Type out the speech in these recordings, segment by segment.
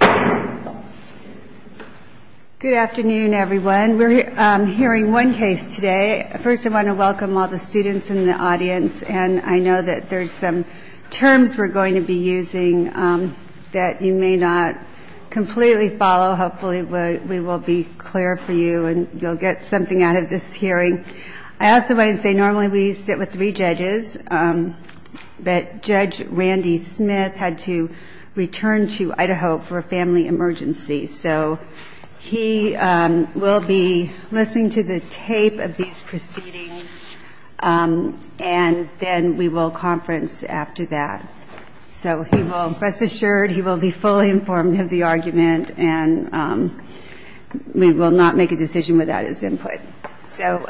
Good afternoon, everyone. We are hearing one case today. First, I want to welcome all the students in the audience. I know that there are some terms we are going to be using that you may not completely follow. Hopefully, we will be clear for you and you will get something out of this hearing. I also wanted to say that normally we sit with three judges, but Judge Randy Smith had to return to Idaho for a family emergency, so he will be listening to the tape of these proceedings, and then we will conference after that. So he will rest assured he will be fully informed of the argument, and we will not make a decision without his input. So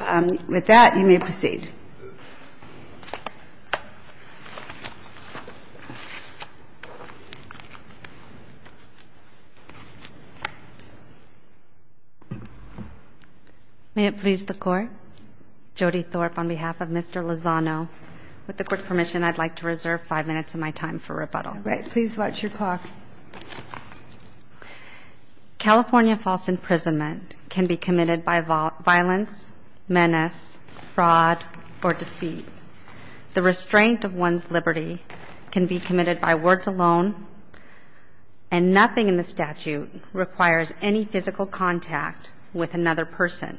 with that, you may proceed. Jody Thorpe May it please the Court, Jody Thorpe, on behalf of Mr. Lozano, with the Court's permission, I would like to reserve five minutes of my time for rebuttal. Please watch your clock. California false imprisonment can be committed by violence, menace, fraud or deceit. The restraint of one's liberty can be committed by words alone, and nothing in the statute requires any physical contact with another person.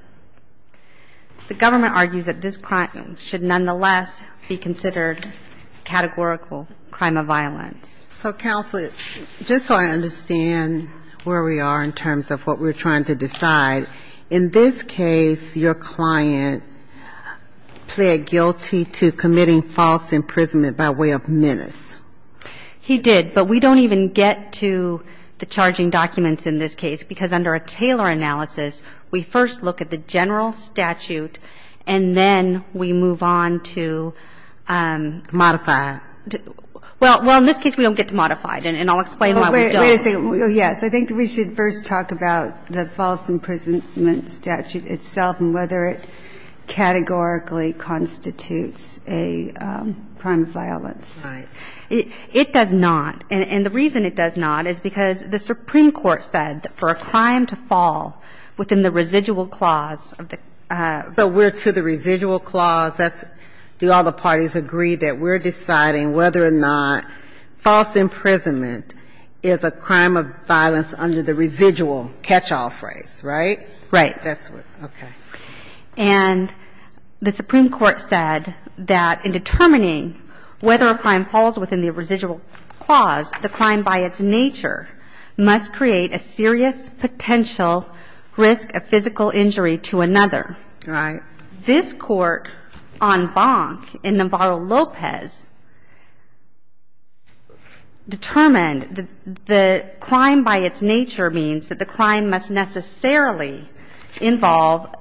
The government argues that this crime should nonetheless be considered categorical crime of violence. So, Counsel, just so I understand where we are in terms of what we're trying to decide, in this case your client pled guilty to committing false imprisonment by way of menace. He did, but we don't even get to the charging documents in this case, because under a Taylor analysis, we first look at the general statute, and then we move on to Jody Thorpe Modify it. Jody Thorpe Well, in this case we don't get to modify it, and I'll explain why we don't. Jody Thorpe Wait a second. Yes, I think we should first talk about the false imprisonment statute itself and whether it categorically constitutes a crime of violence. Jody Thorpe Right. It does not, and the reason it does not is because the Supreme Court said that for a crime to fall within the residual clause of the ---- Jody Thorpe So we're to the residual clause. That's do all the parties agree that we're deciding whether or not false imprisonment is a crime of violence under the residual catch-all phrase, right? Jody Thorpe Right. Jody Thorpe That's what, okay. Jody Thorpe And the Supreme Court said that in determining whether a crime falls within the residual clause, the crime by its nature must create a serious potential risk of physical injury to another. Jody Thorpe Right. Jody Thorpe This court on Bonk in Navarro-Lopez determined that the crime by its nature means that the crime must necessarily involve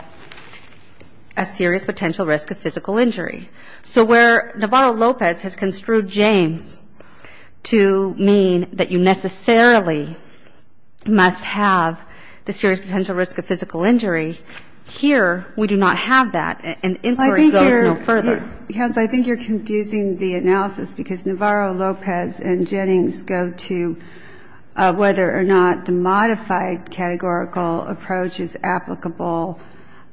a serious potential risk of physical injury. Here, we do not have that, and inquiry goes no further. Jody Thorpe I think you're confusing the analysis because Navarro-Lopez and Jennings go to whether or not the modified categorical approach is applicable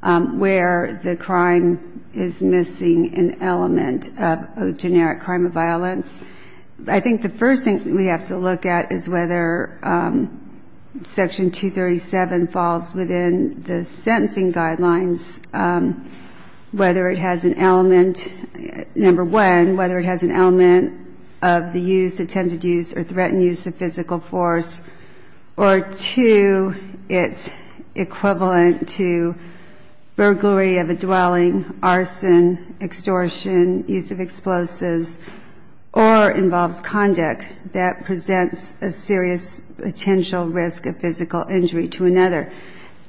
where the crime is missing an element of a generic crime of violence. I think the first thing we have to look at is whether Section 237 falls within the sentencing guidelines, whether it has an element, number one, whether it has an element of the use, attempted use, or threatened use of physical force, or two, it's equivalent to burglary of a dwelling, arson, extortion, use of explosives, or, number three, or involves conduct that presents a serious potential risk of physical injury to another.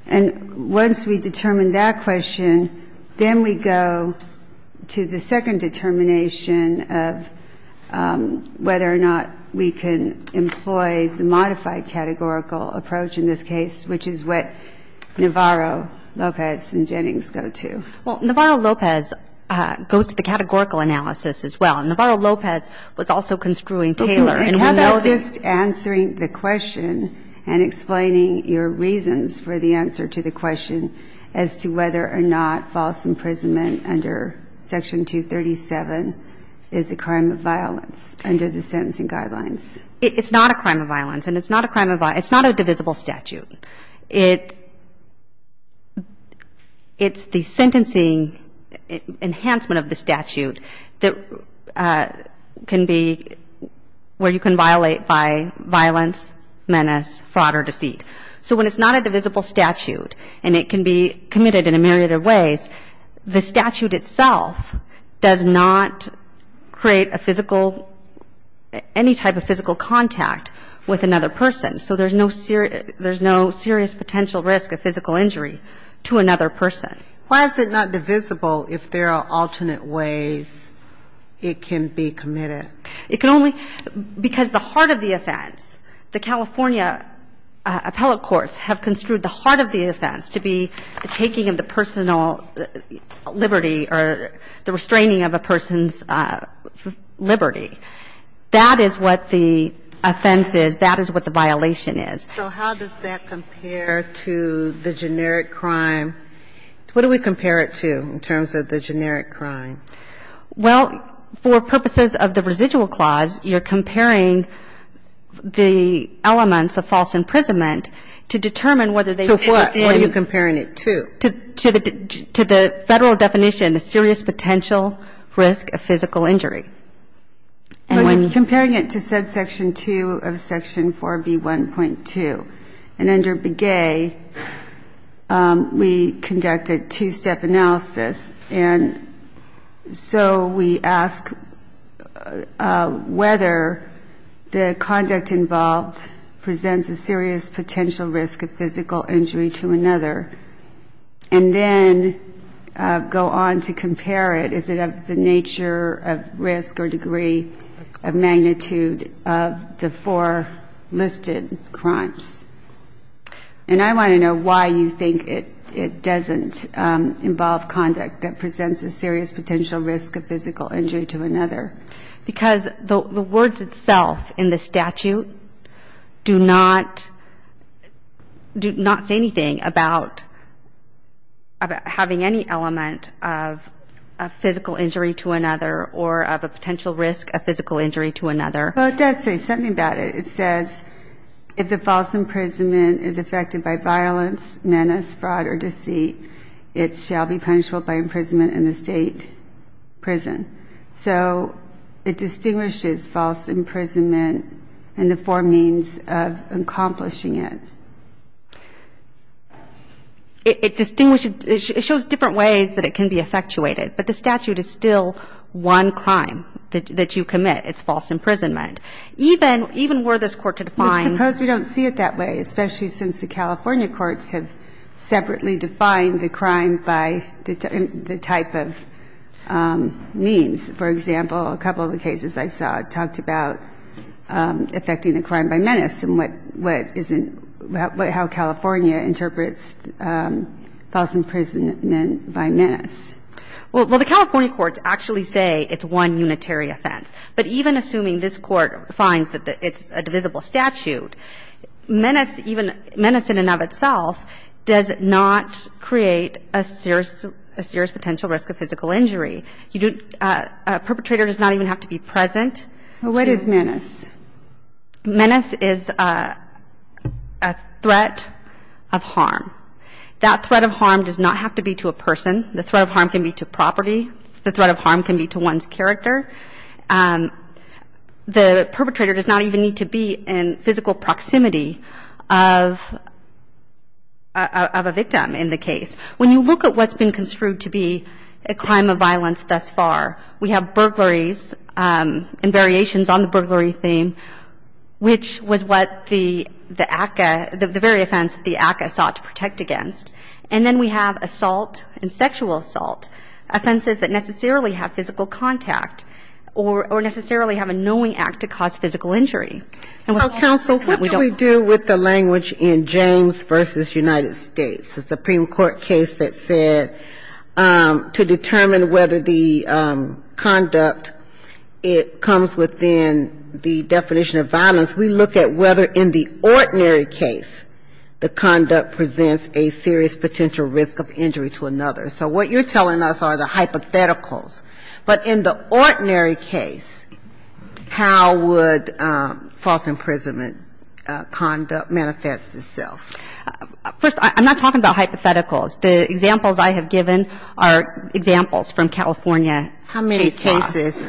And once we determine that question, then we go to the second determination of whether or not we can employ the modified categorical approach in this case, which is what Navarro-Lopez and Jennings go to. Jody Thorpe Well, Navarro-Lopez goes to the categorical analysis as well, and Navarro-Lopez was also construing Taylor, and we know that. Kagan How about just answering the question and explaining your reasons for the answer to the question as to whether or not false imprisonment under Section 237 is a crime of violence under the sentencing guidelines? Jody Thorpe It's not a crime of violence, and it's not a crime of violence. It's not a divisible statute. It's the sentencing enhancement of the statute where you can violate by violence, menace, fraud, or deceit. So when it's not a divisible statute, and it can be committed in a myriad of ways, the statute itself does not create any type of physical contact with another person. So there's no serious potential risk of physical injury to another person. Ginsburg Why is it not divisible if there are alternate ways it can be committed? Jody Thorpe Because the heart of the offense, the California appellate courts have construed the heart of the offense to be the taking of the personal liberty or the restraining of a person's liberty. That is what the offense is. That is what the violation is. Ginsburg So how does that compare to the generic crime? What do we compare it to in terms of the generic crime? Jody Thorpe Well, for purposes of the residual clause, you're comparing the elements of false imprisonment to determine whether they fit in to the Federal definition of serious potential risk of physical injury. But comparing it to subsection 2 of section 4B1.2, and under Begay, we conduct a two-step analysis, and so we ask whether the conduct involved presents a serious potential risk of physical injury to another, and then go on to compare it. Is it of the nature of risk or degree of magnitude of the four listed crimes? And I want to know why you think it doesn't involve conduct that presents a serious potential risk of physical injury to another. Jody Thorpe Because the words itself in the statute do not say anything about having any element of a physical injury to another or of a potential risk of physical injury to another. Ginsburg Well, it does say something about it. It says, if the false imprisonment is affected by violence, menace, fraud, or deceit, it shall be punishable by imprisonment in the State prison. So it distinguishes false imprisonment and the four means of accomplishing it. Jody Thorpe It shows different ways that it can be effectuated, but the statute is still one crime that you commit. It's false imprisonment. Even were this court to define the crime by the type of means. For example, a couple of the cases I saw talked about affecting a crime by menace and what isn't, how California interprets false imprisonment by menace. Ginsburg Well, the California courts actually say it's one unitary offense. But even assuming this court finds that it's a divisible statute, menace in and of itself does not create a serious potential risk of physical injury. A perpetrator does not even have to be present. Jody Thorpe What is menace? Ginsburg Menace is a threat of harm. That threat of harm does not have to be to a person. The threat of harm can be to property. The threat of harm can be to one's character. The perpetrator does not even need to be in physical proximity of a victim in the case. When you look at what's been construed to be a crime of violence thus far, we have burglaries and variations on the burglary theme, which was what the ACCA, the very offense that the ACCA sought to protect against. And then we have assault and sexual assault, offenses that necessarily have physical contact or necessarily have a knowing act to cause physical injury. Jody Thorpe So, counsel, what do we do with the language in James v. United States, the conduct? It comes within the definition of violence. We look at whether in the ordinary case the conduct presents a serious potential risk of injury to another. So what you're telling us are the hypotheticals. But in the ordinary case, how would false imprisonment conduct manifest itself? Ginsburg First, I'm not talking about hypotheticals. The examples I have given are examples from California. Jody Thorpe How many cases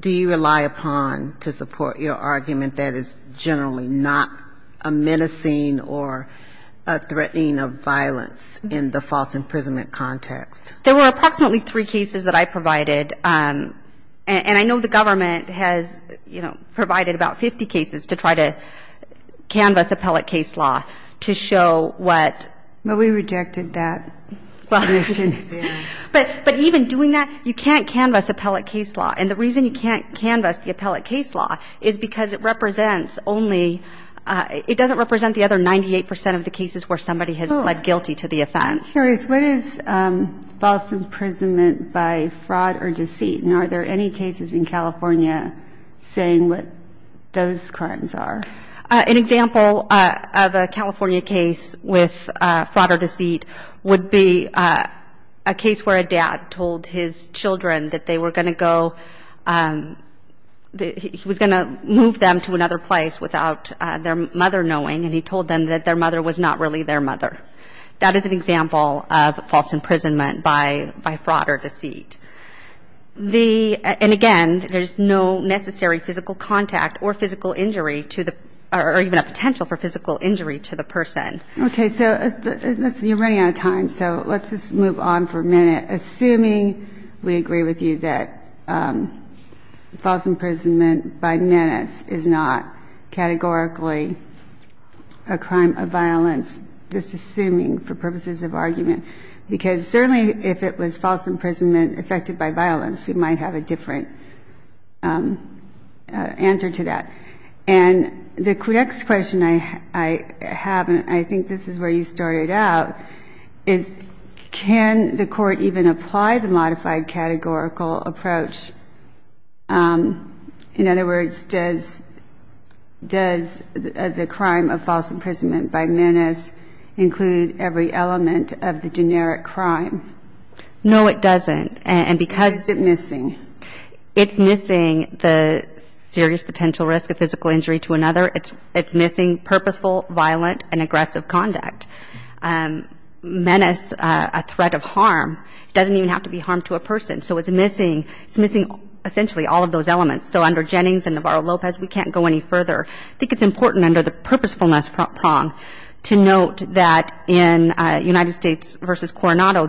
do you rely upon to support your argument that is generally not a menacing or a threatening of violence in the false imprisonment context? Ginsburg There were approximately three cases that I provided. And I know the government has, you know, provided about 50 cases to try to canvas appellate case law to show what that is. But even doing that, you can't canvas appellate case law. And the reason you can't canvas the appellate case law is because it represents only, it doesn't represent the other 98% of the cases where somebody has pled guilty to the offense. Jody Thorpe What is false imprisonment by fraud or deceit? And are there any cases in California saying what those crimes are? Ginsburg An example of a California case with fraud or deceit would be a case where a dad told his children that they were going to go, he was going to move them to another place without their mother knowing. And he told them that their mother was not really their mother. That is an example of false imprisonment by fraud or deceit. And again, there's no necessary physical contact or physical injury to the, or even a potential for physical injury to the person. Jody Thorpe Okay. So you're running out of time. So let's just move on for a minute, assuming we agree with you that false imprisonment by menace is not categorically a crime of violence, just assuming for purposes of argument. Because certainly if it was false imprisonment affected by violence, we might have a different answer to that. And the next question I have, and I think this is where you started out, is can the court even apply the modified categorical approach? In other words, does the crime of false imprisonment by menace include every element of the generic crime? Jody Thorpe No, it doesn't. And because it's missing the serious potential risk of physical injury to another, it's missing purposeful, violent and aggressive conduct. Menace, a threat of harm, doesn't even have to be harm to a person. So it's missing essentially all of those elements. So under Jennings and Navarro-Lopez, we can't go any further. I think it's important to note that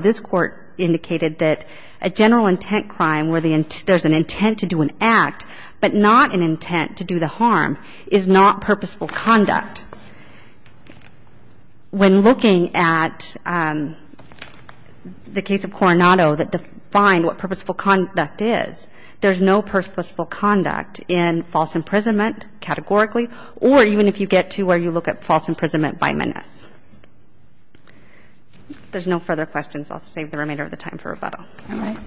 the court indicated that a general intent crime where there's an intent to do an act, but not an intent to do the harm, is not purposeful conduct. When looking at the case of Coronado that defined what purposeful conduct is, there's no purposeful conduct in false imprisonment categorically, or even if you get to where you look at false imprisonment, it's not purposeful conduct. So I'll leave the remainder of the time for rebuttal. Mark Rahe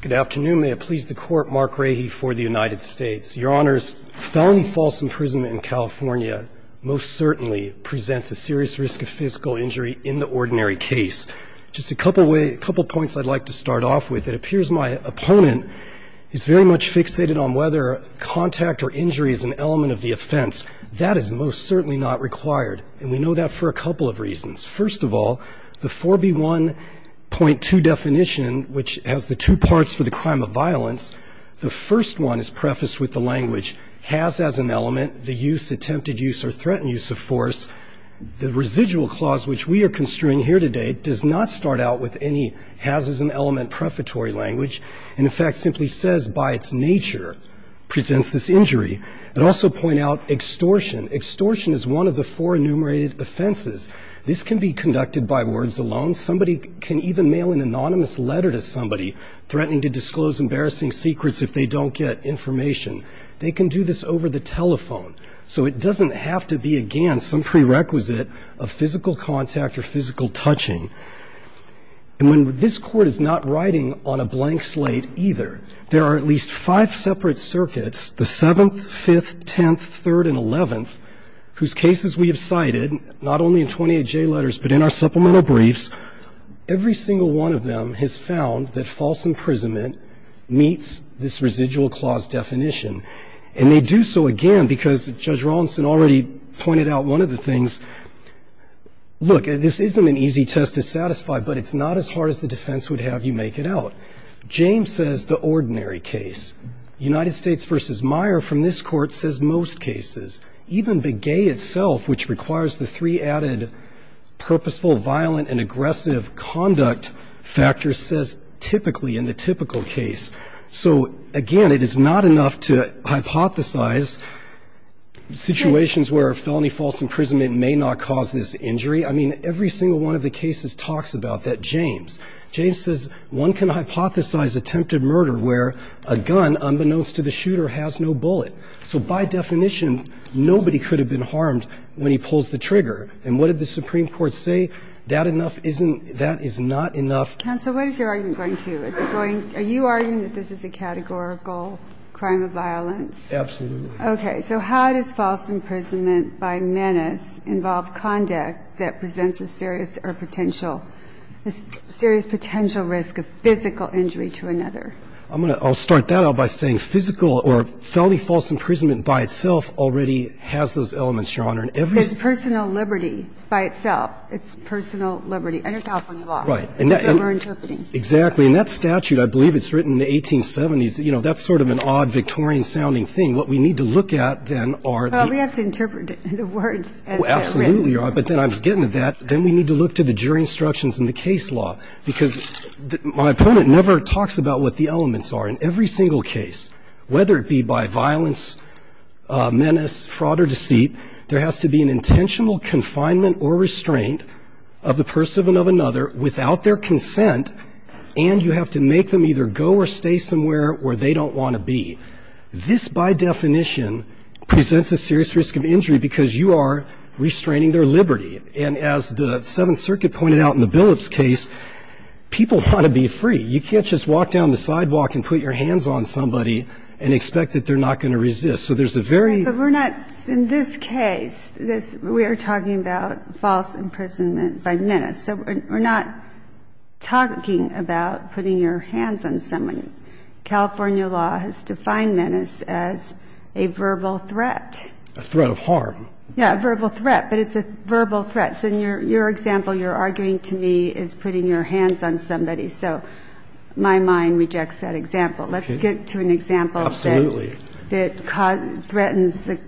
Good afternoon. May it please the Court, Mark Rahe for the United States. Your Honors, felony false imprisonment in California most certainly presents a serious risk of violence. It's very much fixated on whether contact or injury is an element of the offense. That is most certainly not required, and we know that for a couple of reasons. First of all, the 4B1.2 definition, which has the two parts for the crime of violence, the first one is prefaced with the language, has as an element, the use, attempted use or threatened use of force. The residual clause which we are construing here today does not start out with any has as an element prefatory language, and in fact simply says by its nature presents this injury. I'd also point out extortion. Extortion is one of the four enumerated offenses. This can be conducted by words alone. Somebody can even mail an anonymous letter to somebody threatening to disclose embarrassing secrets if they don't get information. They can do this over the telephone. So it doesn't have to be against some prerequisite of physical contact or physical touching. And when this Court is not writing on a blank slate either, there are at least five separate circuits, the 7th, 5th, 10th, 3rd and 11th, whose cases we have cited, not only in 28J letters but in our supplemental briefs, every single one of them has found that false imprisonment meets this residual clause definition. And they do so again because Judge Rawlinson already pointed out one of the things. Look, this isn't an easy test to satisfy, but it's not as hard as the defense would have you make it out. James says the ordinary case. United States v. Meyer from this Court says most cases. Even Begay itself, which requires the three added purposeful, violent and aggressive conduct factors, says typically in the typical case. So again, it is not enough to hypothesize situations where a felony false imprisonment may not cause this injury. I mean, every single one of the cases talks about that. James says one can hypothesize attempted murder where a gun, unbeknownst to the shooter, has no bullet. So by definition, nobody could have been harmed when he pulls the trigger. And what did the Supreme Court say? That is not enough. Counsel, what is your argument going to? Are you arguing that this is a categorical crime of violence? Absolutely. Okay. So how does false imprisonment by menace involve conduct that presents a serious or potential, a serious potential risk of physical injury to another? I'm going to start that out by saying physical or felony false imprisonment by itself already has those elements, Your Honor. And every single one of those. There's personal liberty by itself. It's personal liberty under California law. Right. And that's what we're interpreting. Exactly. And that statute, I believe it's written in the 1870s, you know, that's sort of an odd Victorian-sounding thing. What we need to look at, then, are the We have to interpret the words as they're written. Oh, absolutely, Your Honor. But then I was getting to that. Then we need to look to the jury instructions in the case law, because my opponent never talks about what the elements are in every single case, whether it be by violence, menace, fraud, or deceit. There has to be an intentional confinement or restraint of the person and of another without their consent, and you have to make them either go or stay somewhere where they don't want to be. This, by definition, presents a serious risk of injury because you are restraining their liberty. And as the Seventh Circuit pointed out in the Billups case, people want to be free. You can't just walk down the sidewalk and put your hands on somebody and expect that they're not going to resist. So there's a very But we're not, in this case, we are talking about false imprisonment by menace. So we're not talking about putting your hands on someone. California law has defined menace as a verbal threat. A threat of harm. Yeah, a verbal threat, but it's a verbal threat. So in your example, you're arguing to me is putting your hands on somebody. So my mind rejects that example. Okay. Let's get to an example that Absolutely. threatens the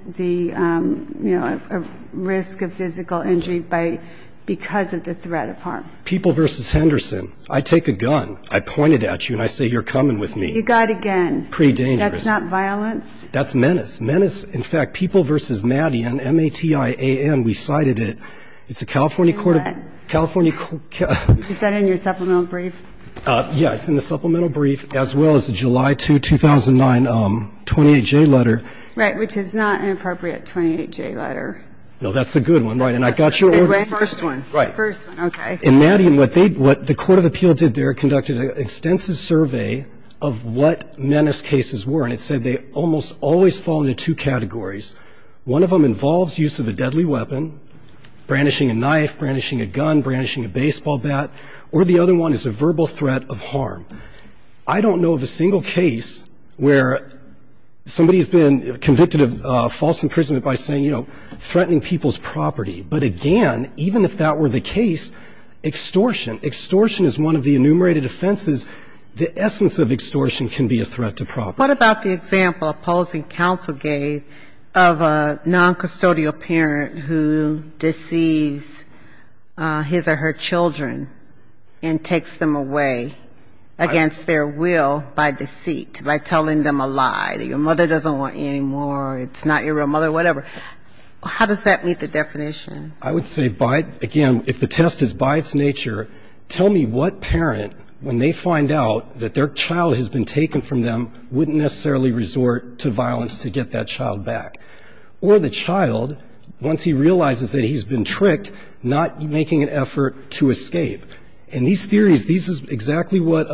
risk of physical injury because of the threat of harm. People versus Henderson. I take a gun. I point it at you and I say you're coming with me. You got a gun. Pretty dangerous. That's not violence. That's menace. Menace. In fact, people versus Maddie and M-A-T-I-A-N, we cited it. It's a California court of California Is that in your supplemental brief? Yeah, it's in the supplemental brief as well as the July 2, 2009, 28-J letter. Right, which is not an appropriate 28-J letter. No, that's a good one. Right. And I got your order in the first one. Right. First one. Okay. And Maddie, what the court of appeal did there, conducted an extensive survey of what menace cases were, and it said they almost always fall into two categories. One of them involves use of a deadly weapon, brandishing a knife, brandishing a gun, brandishing a baseball bat. Or the other one is a verbal threat of harm. I don't know of a single case where somebody has been convicted of false imprisonment by saying, you know, threatening people's property. But again, even if that were the case, extortion, extortion is one of the enumerated offenses. The essence of extortion can be a threat to property. What about the example opposing counsel gave of a noncustodial parent who deceives his or her children and takes them away against their will by deceit, by telling them a lie, that your mother doesn't want you anymore, it's not your real mother, whatever. How does that meet the definition? I would say by, again, if the test is by its nature, tell me what parent, when they find out that their child has been taken from them, wouldn't necessarily resort to not making an effort to escape. And these theories, this is exactly what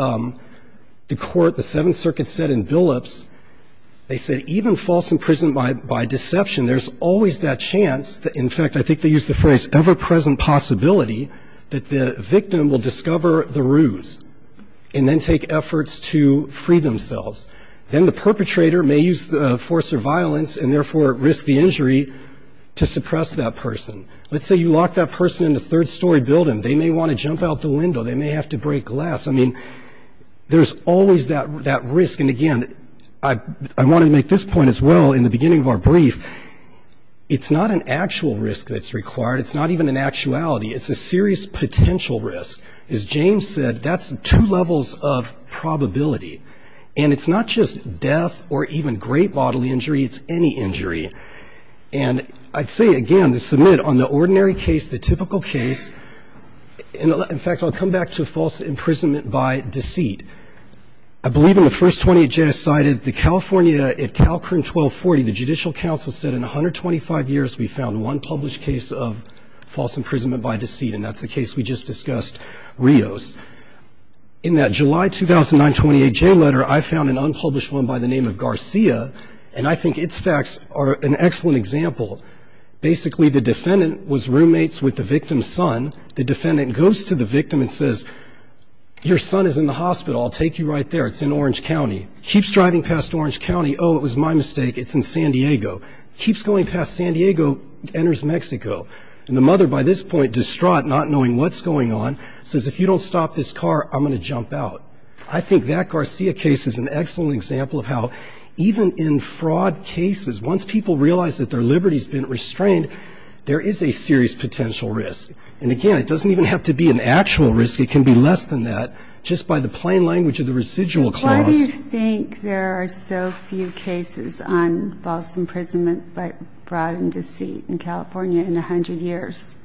the court, the Seventh Circuit, said in Billups. They said even false imprisonment by deception, there's always that chance that, in fact, I think they used the phrase, ever-present possibility, that the victim will discover the ruse and then take efforts to free themselves. Then the perpetrator may use force or violence and, therefore, risk the person in the third story building. They may want to jump out the window. They may have to break glass. I mean, there's always that risk. And, again, I want to make this point as well in the beginning of our brief. It's not an actual risk that's required. It's not even an actuality. It's a serious potential risk. As James said, that's two levels of probability. And it's not just death or even great bodily injury. It's any case. In fact, I'll come back to false imprisonment by deceit. I believe in the first 28J I cited, the California, at CalCrim 1240, the Judicial Council said in 125 years we found one published case of false imprisonment by deceit. And that's the case we just discussed, Rios. In that July 2009 28J letter, I found an unpublished one by the name of Garcia. And I think its facts are an excellent example. Basically, the defendant was roommates with the victim's son. The defendant goes to the victim and says, your son is in the hospital. I'll take you right there. It's in Orange County. Keeps driving past Orange County. Oh, it was my mistake. It's in San Diego. Keeps going past San Diego, enters Mexico. And the mother, by this point distraught, not knowing what's going on, says, if you don't stop this car, I'm going to jump out. I think that Garcia case is an excellent example of how even in fraud cases, once people realize that their liberty has been restrained, there is a serious potential risk. And again, it doesn't even have to be an actual risk. It can be less than that, just by the plain language of the residual clause. Why do you think there are so few cases on false imprisonment by fraud and deceit in California in 100 years?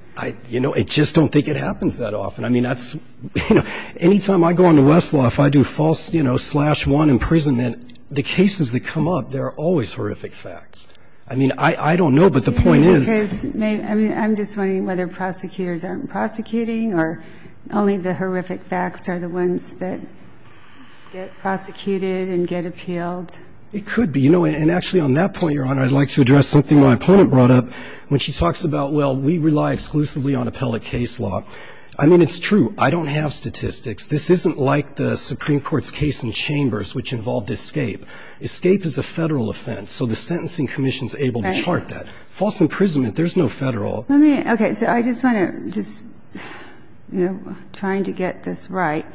You know, I just don't think it happens that often. I mean, that's, you know, any time I go into Westlaw, if I do false, you know, slash one imprisonment, the cases that come up, they're always horrific facts. I mean, I don't know, but the point is... I mean, I'm just wondering whether prosecutors aren't prosecuting or only the horrific facts are the ones that get prosecuted and get appealed. It could be. You know, and actually on that point, Your Honor, I'd like to address something my opponent brought up when she talks about, well, we rely exclusively on appellate case law. I mean, it's true. I don't have statistics. This isn't like the Supreme Court's case in Chambers, which involved escape. Escape is a Federal offense, so the Sentencing Commission is able to chart that. False imprisonment, there's no Federal. Let me, okay. So I just want to just, you know, trying to get this right,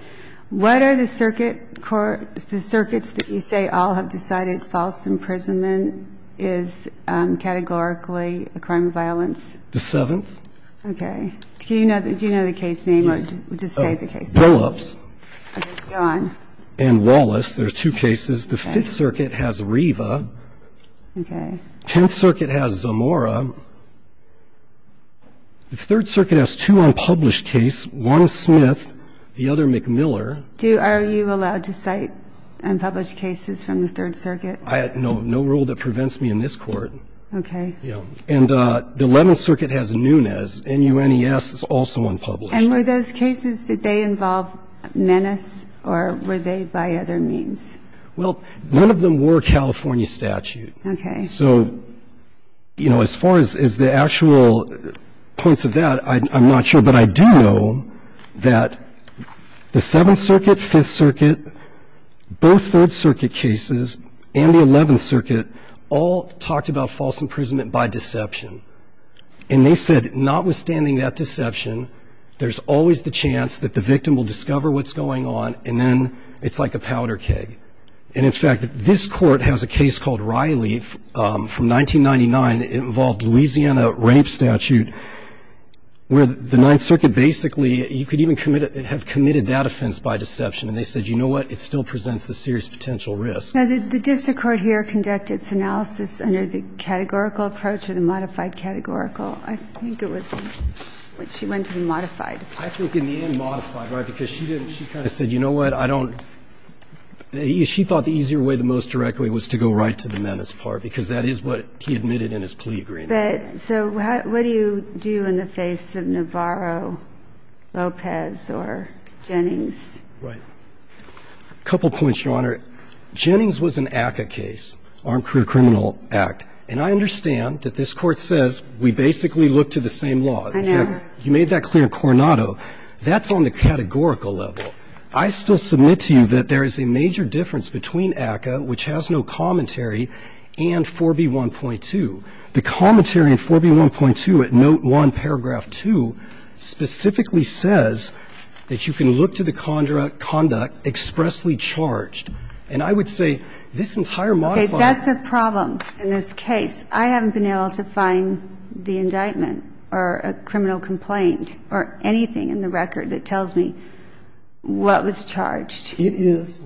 what are the circuit courts, the circuits that you say all have decided false imprisonment is categorically a crime of violence? The Seventh. Okay. Do you know the case name or just say the case name? Billups. Okay. Go on. And Wallace. There's two cases. The Fifth Circuit has Riva. Okay. Tenth Circuit has Zamora. The Third Circuit has two unpublished cases, one Smith, the other McMiller. Do you, are you allowed to cite unpublished cases from the Third Circuit? I have no rule that prevents me in this court. Okay. And the Eleventh Circuit has Nunes. N-U-N-E-S is also unpublished. And were those cases, did they involve menace or were they by other means? Well, none of them were California statute. Okay. So, you know, as far as the actual points of that, I'm not sure. But I do know that the Seventh Circuit, Fifth Circuit, both Third Circuit cases and the Eleventh Circuit all talked about false imprisonment by deception. And they said notwithstanding that deception, there's always the chance that the victim will discover what's going on and then it's like a powder keg. And, in fact, this Court has a case called Riley from 1999. It involved Louisiana rape statute where the Ninth Circuit basically, you could even have committed that offense by deception. And they said, you know what, it still presents a serious potential risk. Now, did the district court here conduct its analysis under the categorical approach or the modified categorical? I think it was when she went to the modified approach. I think in the end modified, right, because she didn't. She kind of said, you know what, I don't. She thought the easier way, the most direct way was to go right to the menace part because that is what he admitted in his plea agreement. But so what do you do in the face of Navarro, Lopez or Jennings? Right. Couple points, Your Honor. Jennings was an ACCA case, Armed Career Criminal Act. And I understand that this Court says we basically look to the same law. I know. You made that clear in Coronado. That's on the categorical level. I still submit to you that there is a major difference between ACCA, which has no commentary, and 4B1.2. The commentary in 4B1.2 at note one, paragraph two, specifically says that you can look to the conduct expressly charged. And I would say this entire modified. Okay. That's the problem in this case. I haven't been able to find the indictment or a criminal complaint or anything in the record that tells me what was charged. It is.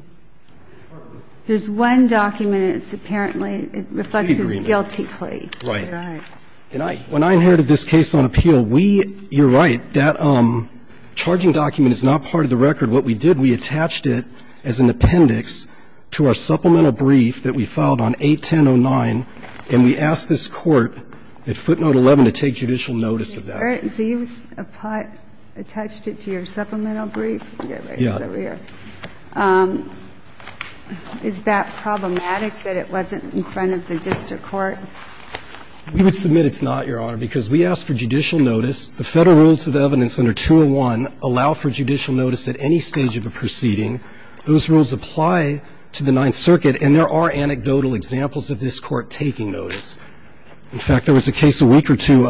There's one document and it's apparently, it reflects his guilty plea. Right. Right. And I, when I inherited this case on appeal, we, you're right, that charging document is not part of the record. What we did, we attached it as an appendix to our supplemental brief that we filed on 81009, and we asked this Court at footnote 11 to take judicial notice of that. So you attached it to your supplemental brief? Yeah. Is that problematic that it wasn't in front of the district court? We would submit it's not, Your Honor, because we asked for judicial notice. The Federal Rules of Evidence under 201 allow for judicial notice at any stage of a proceeding. Those rules apply to the Ninth Circuit, and there are anecdotal examples of this Court taking notice. In fact, there was a case a week or two,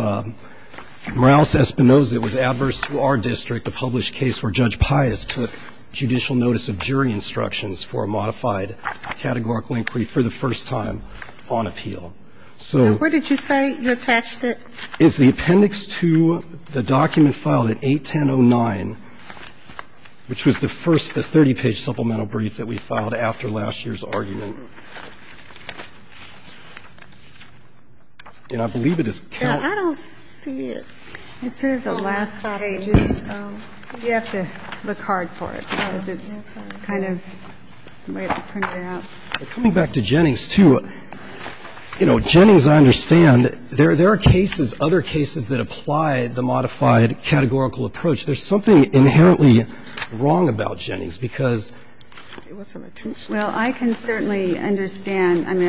Morales-Espinosa. It was adverse to our district, a published case where Judge Pius took judicial notice of jury instructions for a modified categorical inquiry for the first time on appeal. So where did you say you attached it? It's the appendix to the document filed at 81009, which was the first, the 30-page supplemental brief that we filed after last year's argument. And I believe it is counted. I don't see it. It's sort of the last page. You have to look hard for it because it's kind of the way it's printed out. But coming back to Jennings, too, you know, Jennings, I understand, there are cases, other cases that apply the modified categorical approach. There's something inherently wrong about Jennings because it wasn't a two-step process. Well, I can certainly understand. I mean,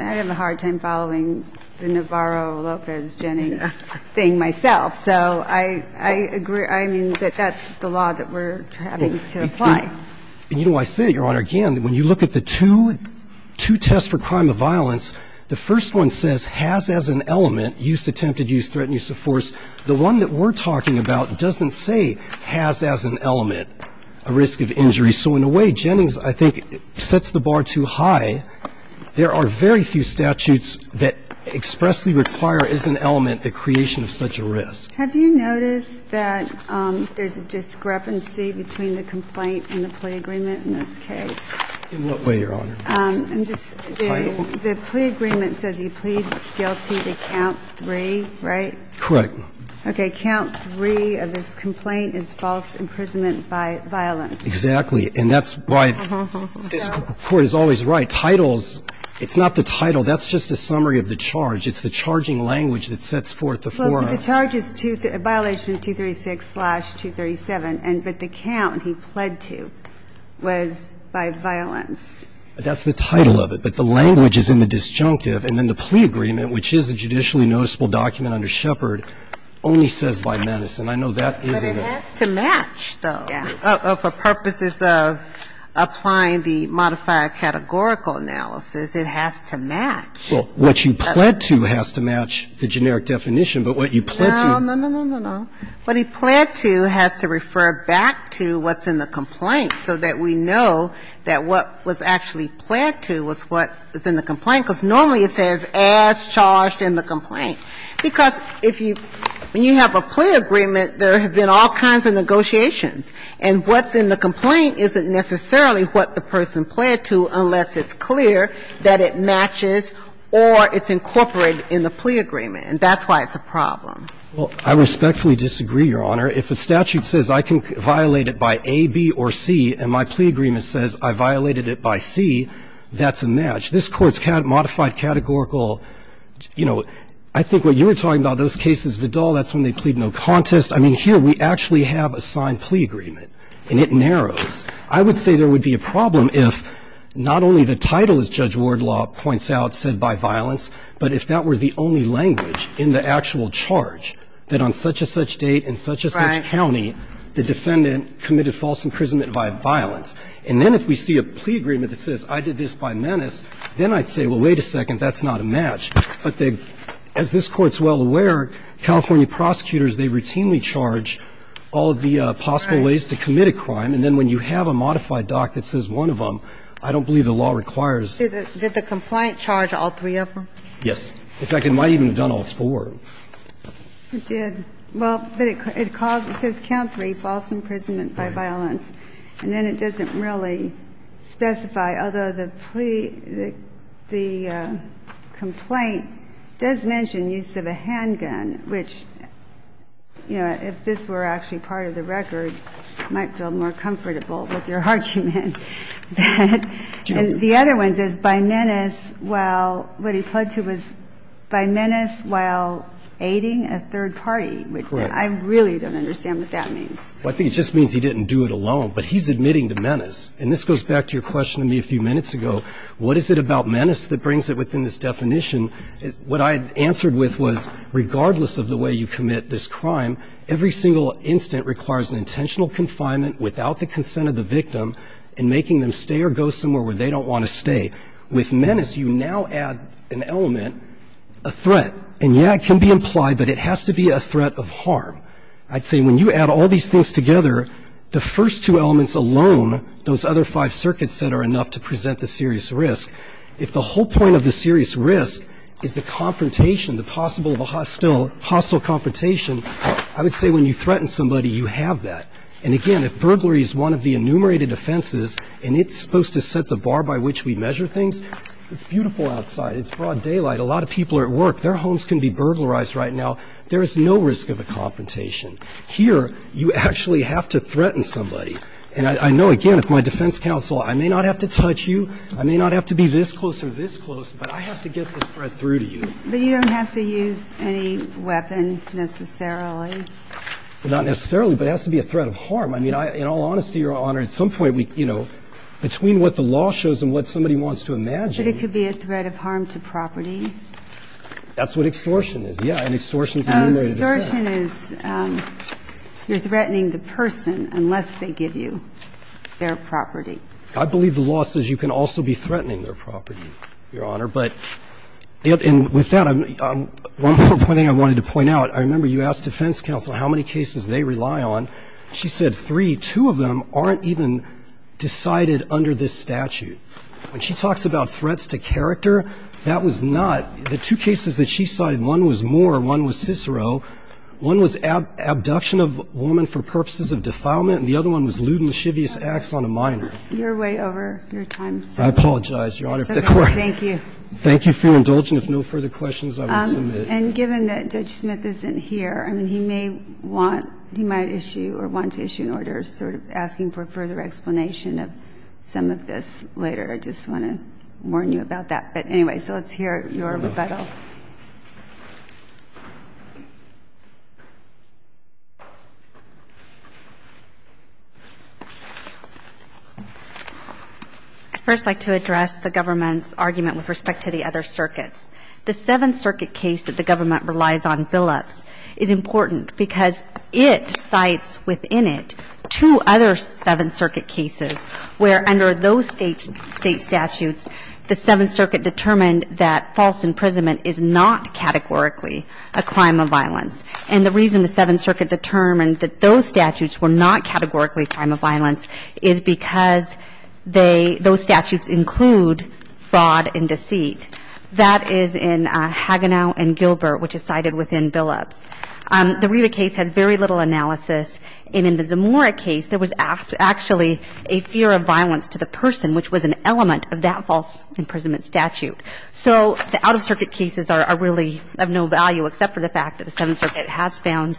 I have a hard time following the Navarro-Lopez-Jennings thing myself. So I agree, I mean, that that's the law that we're having to apply. And, you know, I say, Your Honor, again, when you look at the two tests for crime of violence, the first one says has as an element, use attempted use, threatened use of force. The one that we're talking about doesn't say has as an element a risk of injury. So in a way, Jennings, I think, sets the bar too high. There are very few statutes that expressly require as an element the creation of such a risk. Have you noticed that there's a discrepancy between the complaint and the plea agreement in this case? In what way, Your Honor? The plea agreement says he pleads guilty to count three, right? Correct. Okay. Count three of this complaint is false imprisonment by violence. Exactly. And that's why this Court is always right. Titles, it's not the title. That's just a summary of the charge. It's the charging language that sets forth the forum. The charge is violation 236-237, but the count he pled to was by violence. That's the title of it. But the language is in the disjunctive. And then the plea agreement, which is a judicially noticeable document under Shepard, only says by menace. And I know that isn't it. But it has to match, though. Yeah. For purposes of applying the modifier categorical analysis, it has to match. Well, what you pled to has to match the generic definition, but what you pled to. No, no, no, no, no, no. What he pled to has to refer back to what's in the complaint so that we know that what was actually pled to was what is in the complaint, because normally it says as charged in the complaint. Because if you – when you have a plea agreement, there have been all kinds of negotiations, and what's in the complaint isn't necessarily what the person pled to unless it's or it's incorporated in the plea agreement. And that's why it's a problem. Well, I respectfully disagree, Your Honor. If a statute says I can violate it by A, B, or C, and my plea agreement says I violated it by C, that's a match. This Court's modified categorical, you know, I think what you were talking about, those cases, Vidal, that's when they plead no contest. I mean, here we actually have a signed plea agreement, and it narrows. I would say there would be a problem if not only the title, as Judge Wardlaw points out, said by violence, but if that were the only language in the actual charge that on such-and-such date in such-and-such county the defendant committed false imprisonment by violence. And then if we see a plea agreement that says I did this by menace, then I'd say, well, wait a second, that's not a match. But as this Court's well aware, California prosecutors, they routinely charge all of the possible ways to commit a crime, and then when you have a modified doc that says one of them, I don't believe the law requires. Did the complaint charge all three of them? Yes. In fact, it might have even done all four. It did. Well, but it calls the count three, false imprisonment by violence, and then it doesn't really specify, although the plea, the complaint does mention use of a handgun, which, you know, if this were actually part of the record, might feel more comfortable with your argument. And the other one says by menace while what he pled to was by menace while aiding a third party, which I really don't understand what that means. Well, I think it just means he didn't do it alone, but he's admitting to menace. And this goes back to your question to me a few minutes ago. What is it about menace that brings it within this definition? What I answered with was regardless of the way you commit this crime, every single instant requires an intentional confinement without the consent of the victim and making them stay or go somewhere where they don't want to stay. With menace, you now add an element, a threat. And, yeah, it can be implied, but it has to be a threat of harm. I'd say when you add all these things together, the first two elements alone, those other five circuits that are enough to present the serious risk, if the whole point of the serious risk is the confrontation, the possible of a hostile confrontation, I would say when you threaten somebody, you have that. And, again, if burglary is one of the enumerated offenses and it's supposed to set the bar by which we measure things, it's beautiful outside. It's broad daylight. A lot of people are at work. Their homes can be burglarized right now. There is no risk of a confrontation. Here you actually have to threaten somebody. And I know, again, if my defense counsel, I may not have to touch you, I may not have to be this close or this close, but I have to get this threat through to you. But you don't have to use any weapon necessarily. Not necessarily, but it has to be a threat of harm. I mean, in all honesty, Your Honor, at some point, you know, between what the law shows and what somebody wants to imagine. But it could be a threat of harm to property. That's what extortion is, yeah, and extortion is enumerated. Extortion is you're threatening the person unless they give you their property. I believe the law says you can also be threatening their property, Your Honor. But with that, one more thing I wanted to point out. I remember you asked defense counsel how many cases they rely on. She said three. Two of them aren't even decided under this statute. When she talks about threats to character, that was not the two cases that she cited. One was Moore. One was Cicero. One was abduction of a woman for purposes of defilement. And the other one was lewd and lascivious acts on a minor. You're way over your time, sir. I apologize, Your Honor. Thank you. Thank you for your indulgence. If no further questions, I will submit. And given that Judge Smith isn't here, I mean, he may want, he might issue or want to issue an order sort of asking for further explanation of some of this later. I just want to warn you about that. But anyway, so let's hear your rebuttal. I'd first like to address the government's argument with respect to the other circuits. The Seventh Circuit case that the government relies on, Billups, is important because it cites within it two other Seventh Circuit cases where under those state statutes, the Seventh Circuit determined that false imprisonment is not a crime. It's not a crime. False imprisonment is not categorically a crime of violence. And the reason the Seventh Circuit determined that those statutes were not categorically a crime of violence is because they, those statutes include fraud and deceit. That is in Hagenau and Gilbert, which is cited within Billups. The Riva case had very little analysis. And in the Zamora case, there was actually a fear of violence to the person, which was an element of that false imprisonment statute. So the out-of-circuit cases are really of no value except for the fact that the Seventh Circuit has found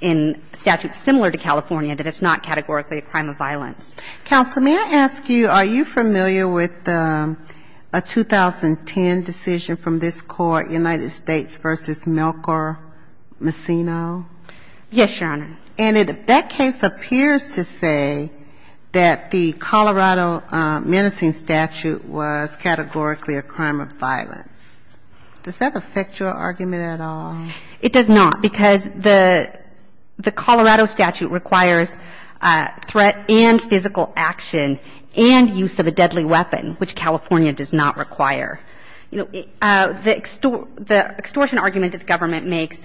in statutes similar to California that it's not categorically a crime of violence. Counsel, may I ask you, are you familiar with a 2010 decision from this Court, United States v. Melchor Messina? Yes, Your Honor. And that case appears to say that the Colorado menacing statute was categorically a crime of violence. Does that affect your argument at all? It does not, because the Colorado statute requires threat and physical action and use of a deadly weapon, which California does not require. You know, the extortion argument that the government makes,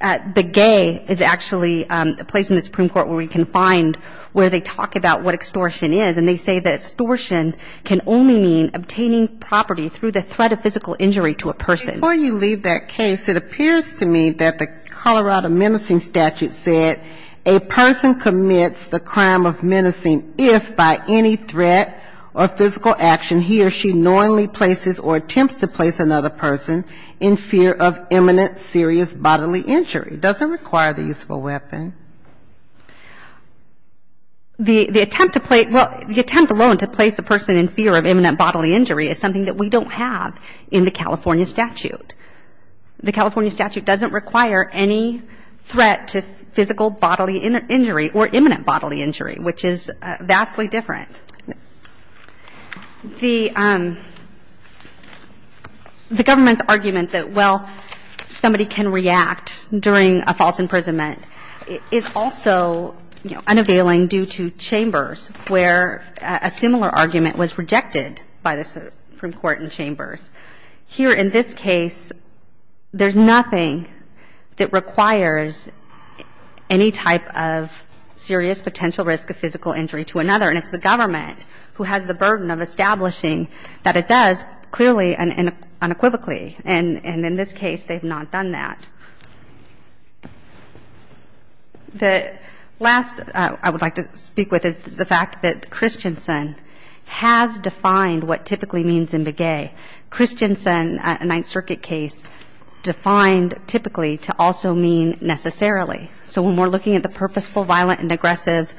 the gay is actually a place in the Supreme Court where we can find where they talk about what extortion is, and they say that extortion can only mean obtaining property through the threat of physical injury to a person. Before you leave that case, it appears to me that the Colorado menacing statute said a person commits the crime of menacing if by any threat or physical action he or she knowingly places or attempts to place another person in fear of imminent serious bodily injury. Does it require the use of a weapon? The attempt alone to place a person in fear of imminent bodily injury is something that we don't have in the California statute. The California statute doesn't require any threat to physical bodily injury or imminent bodily injury, which is vastly different. The government's argument that, well, somebody can react during a false imprisonment is also, you know, unavailing due to Chambers, where a similar argument was rejected by the Supreme Court in Chambers. Here in this case, there's nothing that requires any type of serious potential risk of physical injury to another, and it's the government. Who has the burden of establishing that it does, clearly and unequivocally. And in this case, they've not done that. The last I would like to speak with is the fact that Christensen has defined what typically means imbegay. Christensen, a Ninth Circuit case, defined typically to also mean necessarily. So when we're looking at the purposeful, violent, and aggressive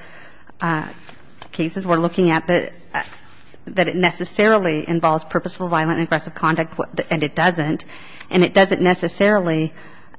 cases, we're looking at that it necessarily involves purposeful, violent, and aggressive conduct, and it doesn't. And it doesn't necessarily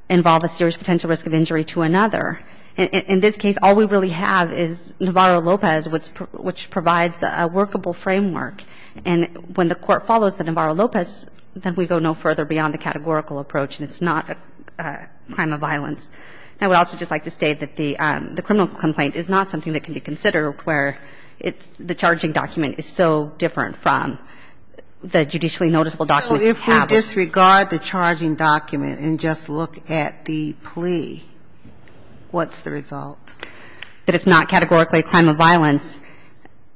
involve a serious potential risk of injury to another. In this case, all we really have is Navarro-Lopez, which provides a workable framework. And when the Court follows the Navarro-Lopez, then we go no further beyond the categorical approach, and it's not a crime of violence. And I would also just like to state that the criminal complaint is not something that can be considered where it's the charging document is so different from the judicially noticeable document. So if we disregard the charging document and just look at the plea, what's the result? That it's not categorically a crime of violence,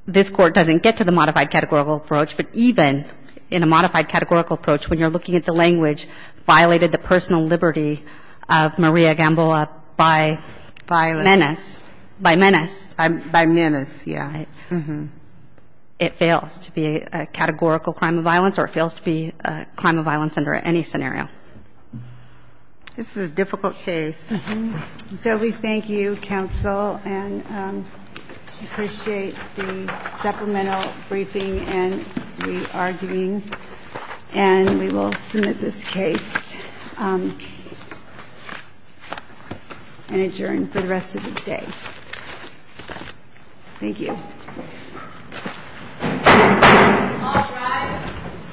this Court doesn't get to the modified categorical approach. But even in a modified categorical approach, when you're looking at the language violated the personal liberty of Maria Gamboa by menace. By menace. By menace, yeah. It fails to be a categorical crime of violence or it fails to be a crime of violence under any scenario. This is a difficult case. So we thank you, counsel, and appreciate the supplemental briefing and re-arguing. And we will submit this case and adjourn for the rest of the day. Thank you.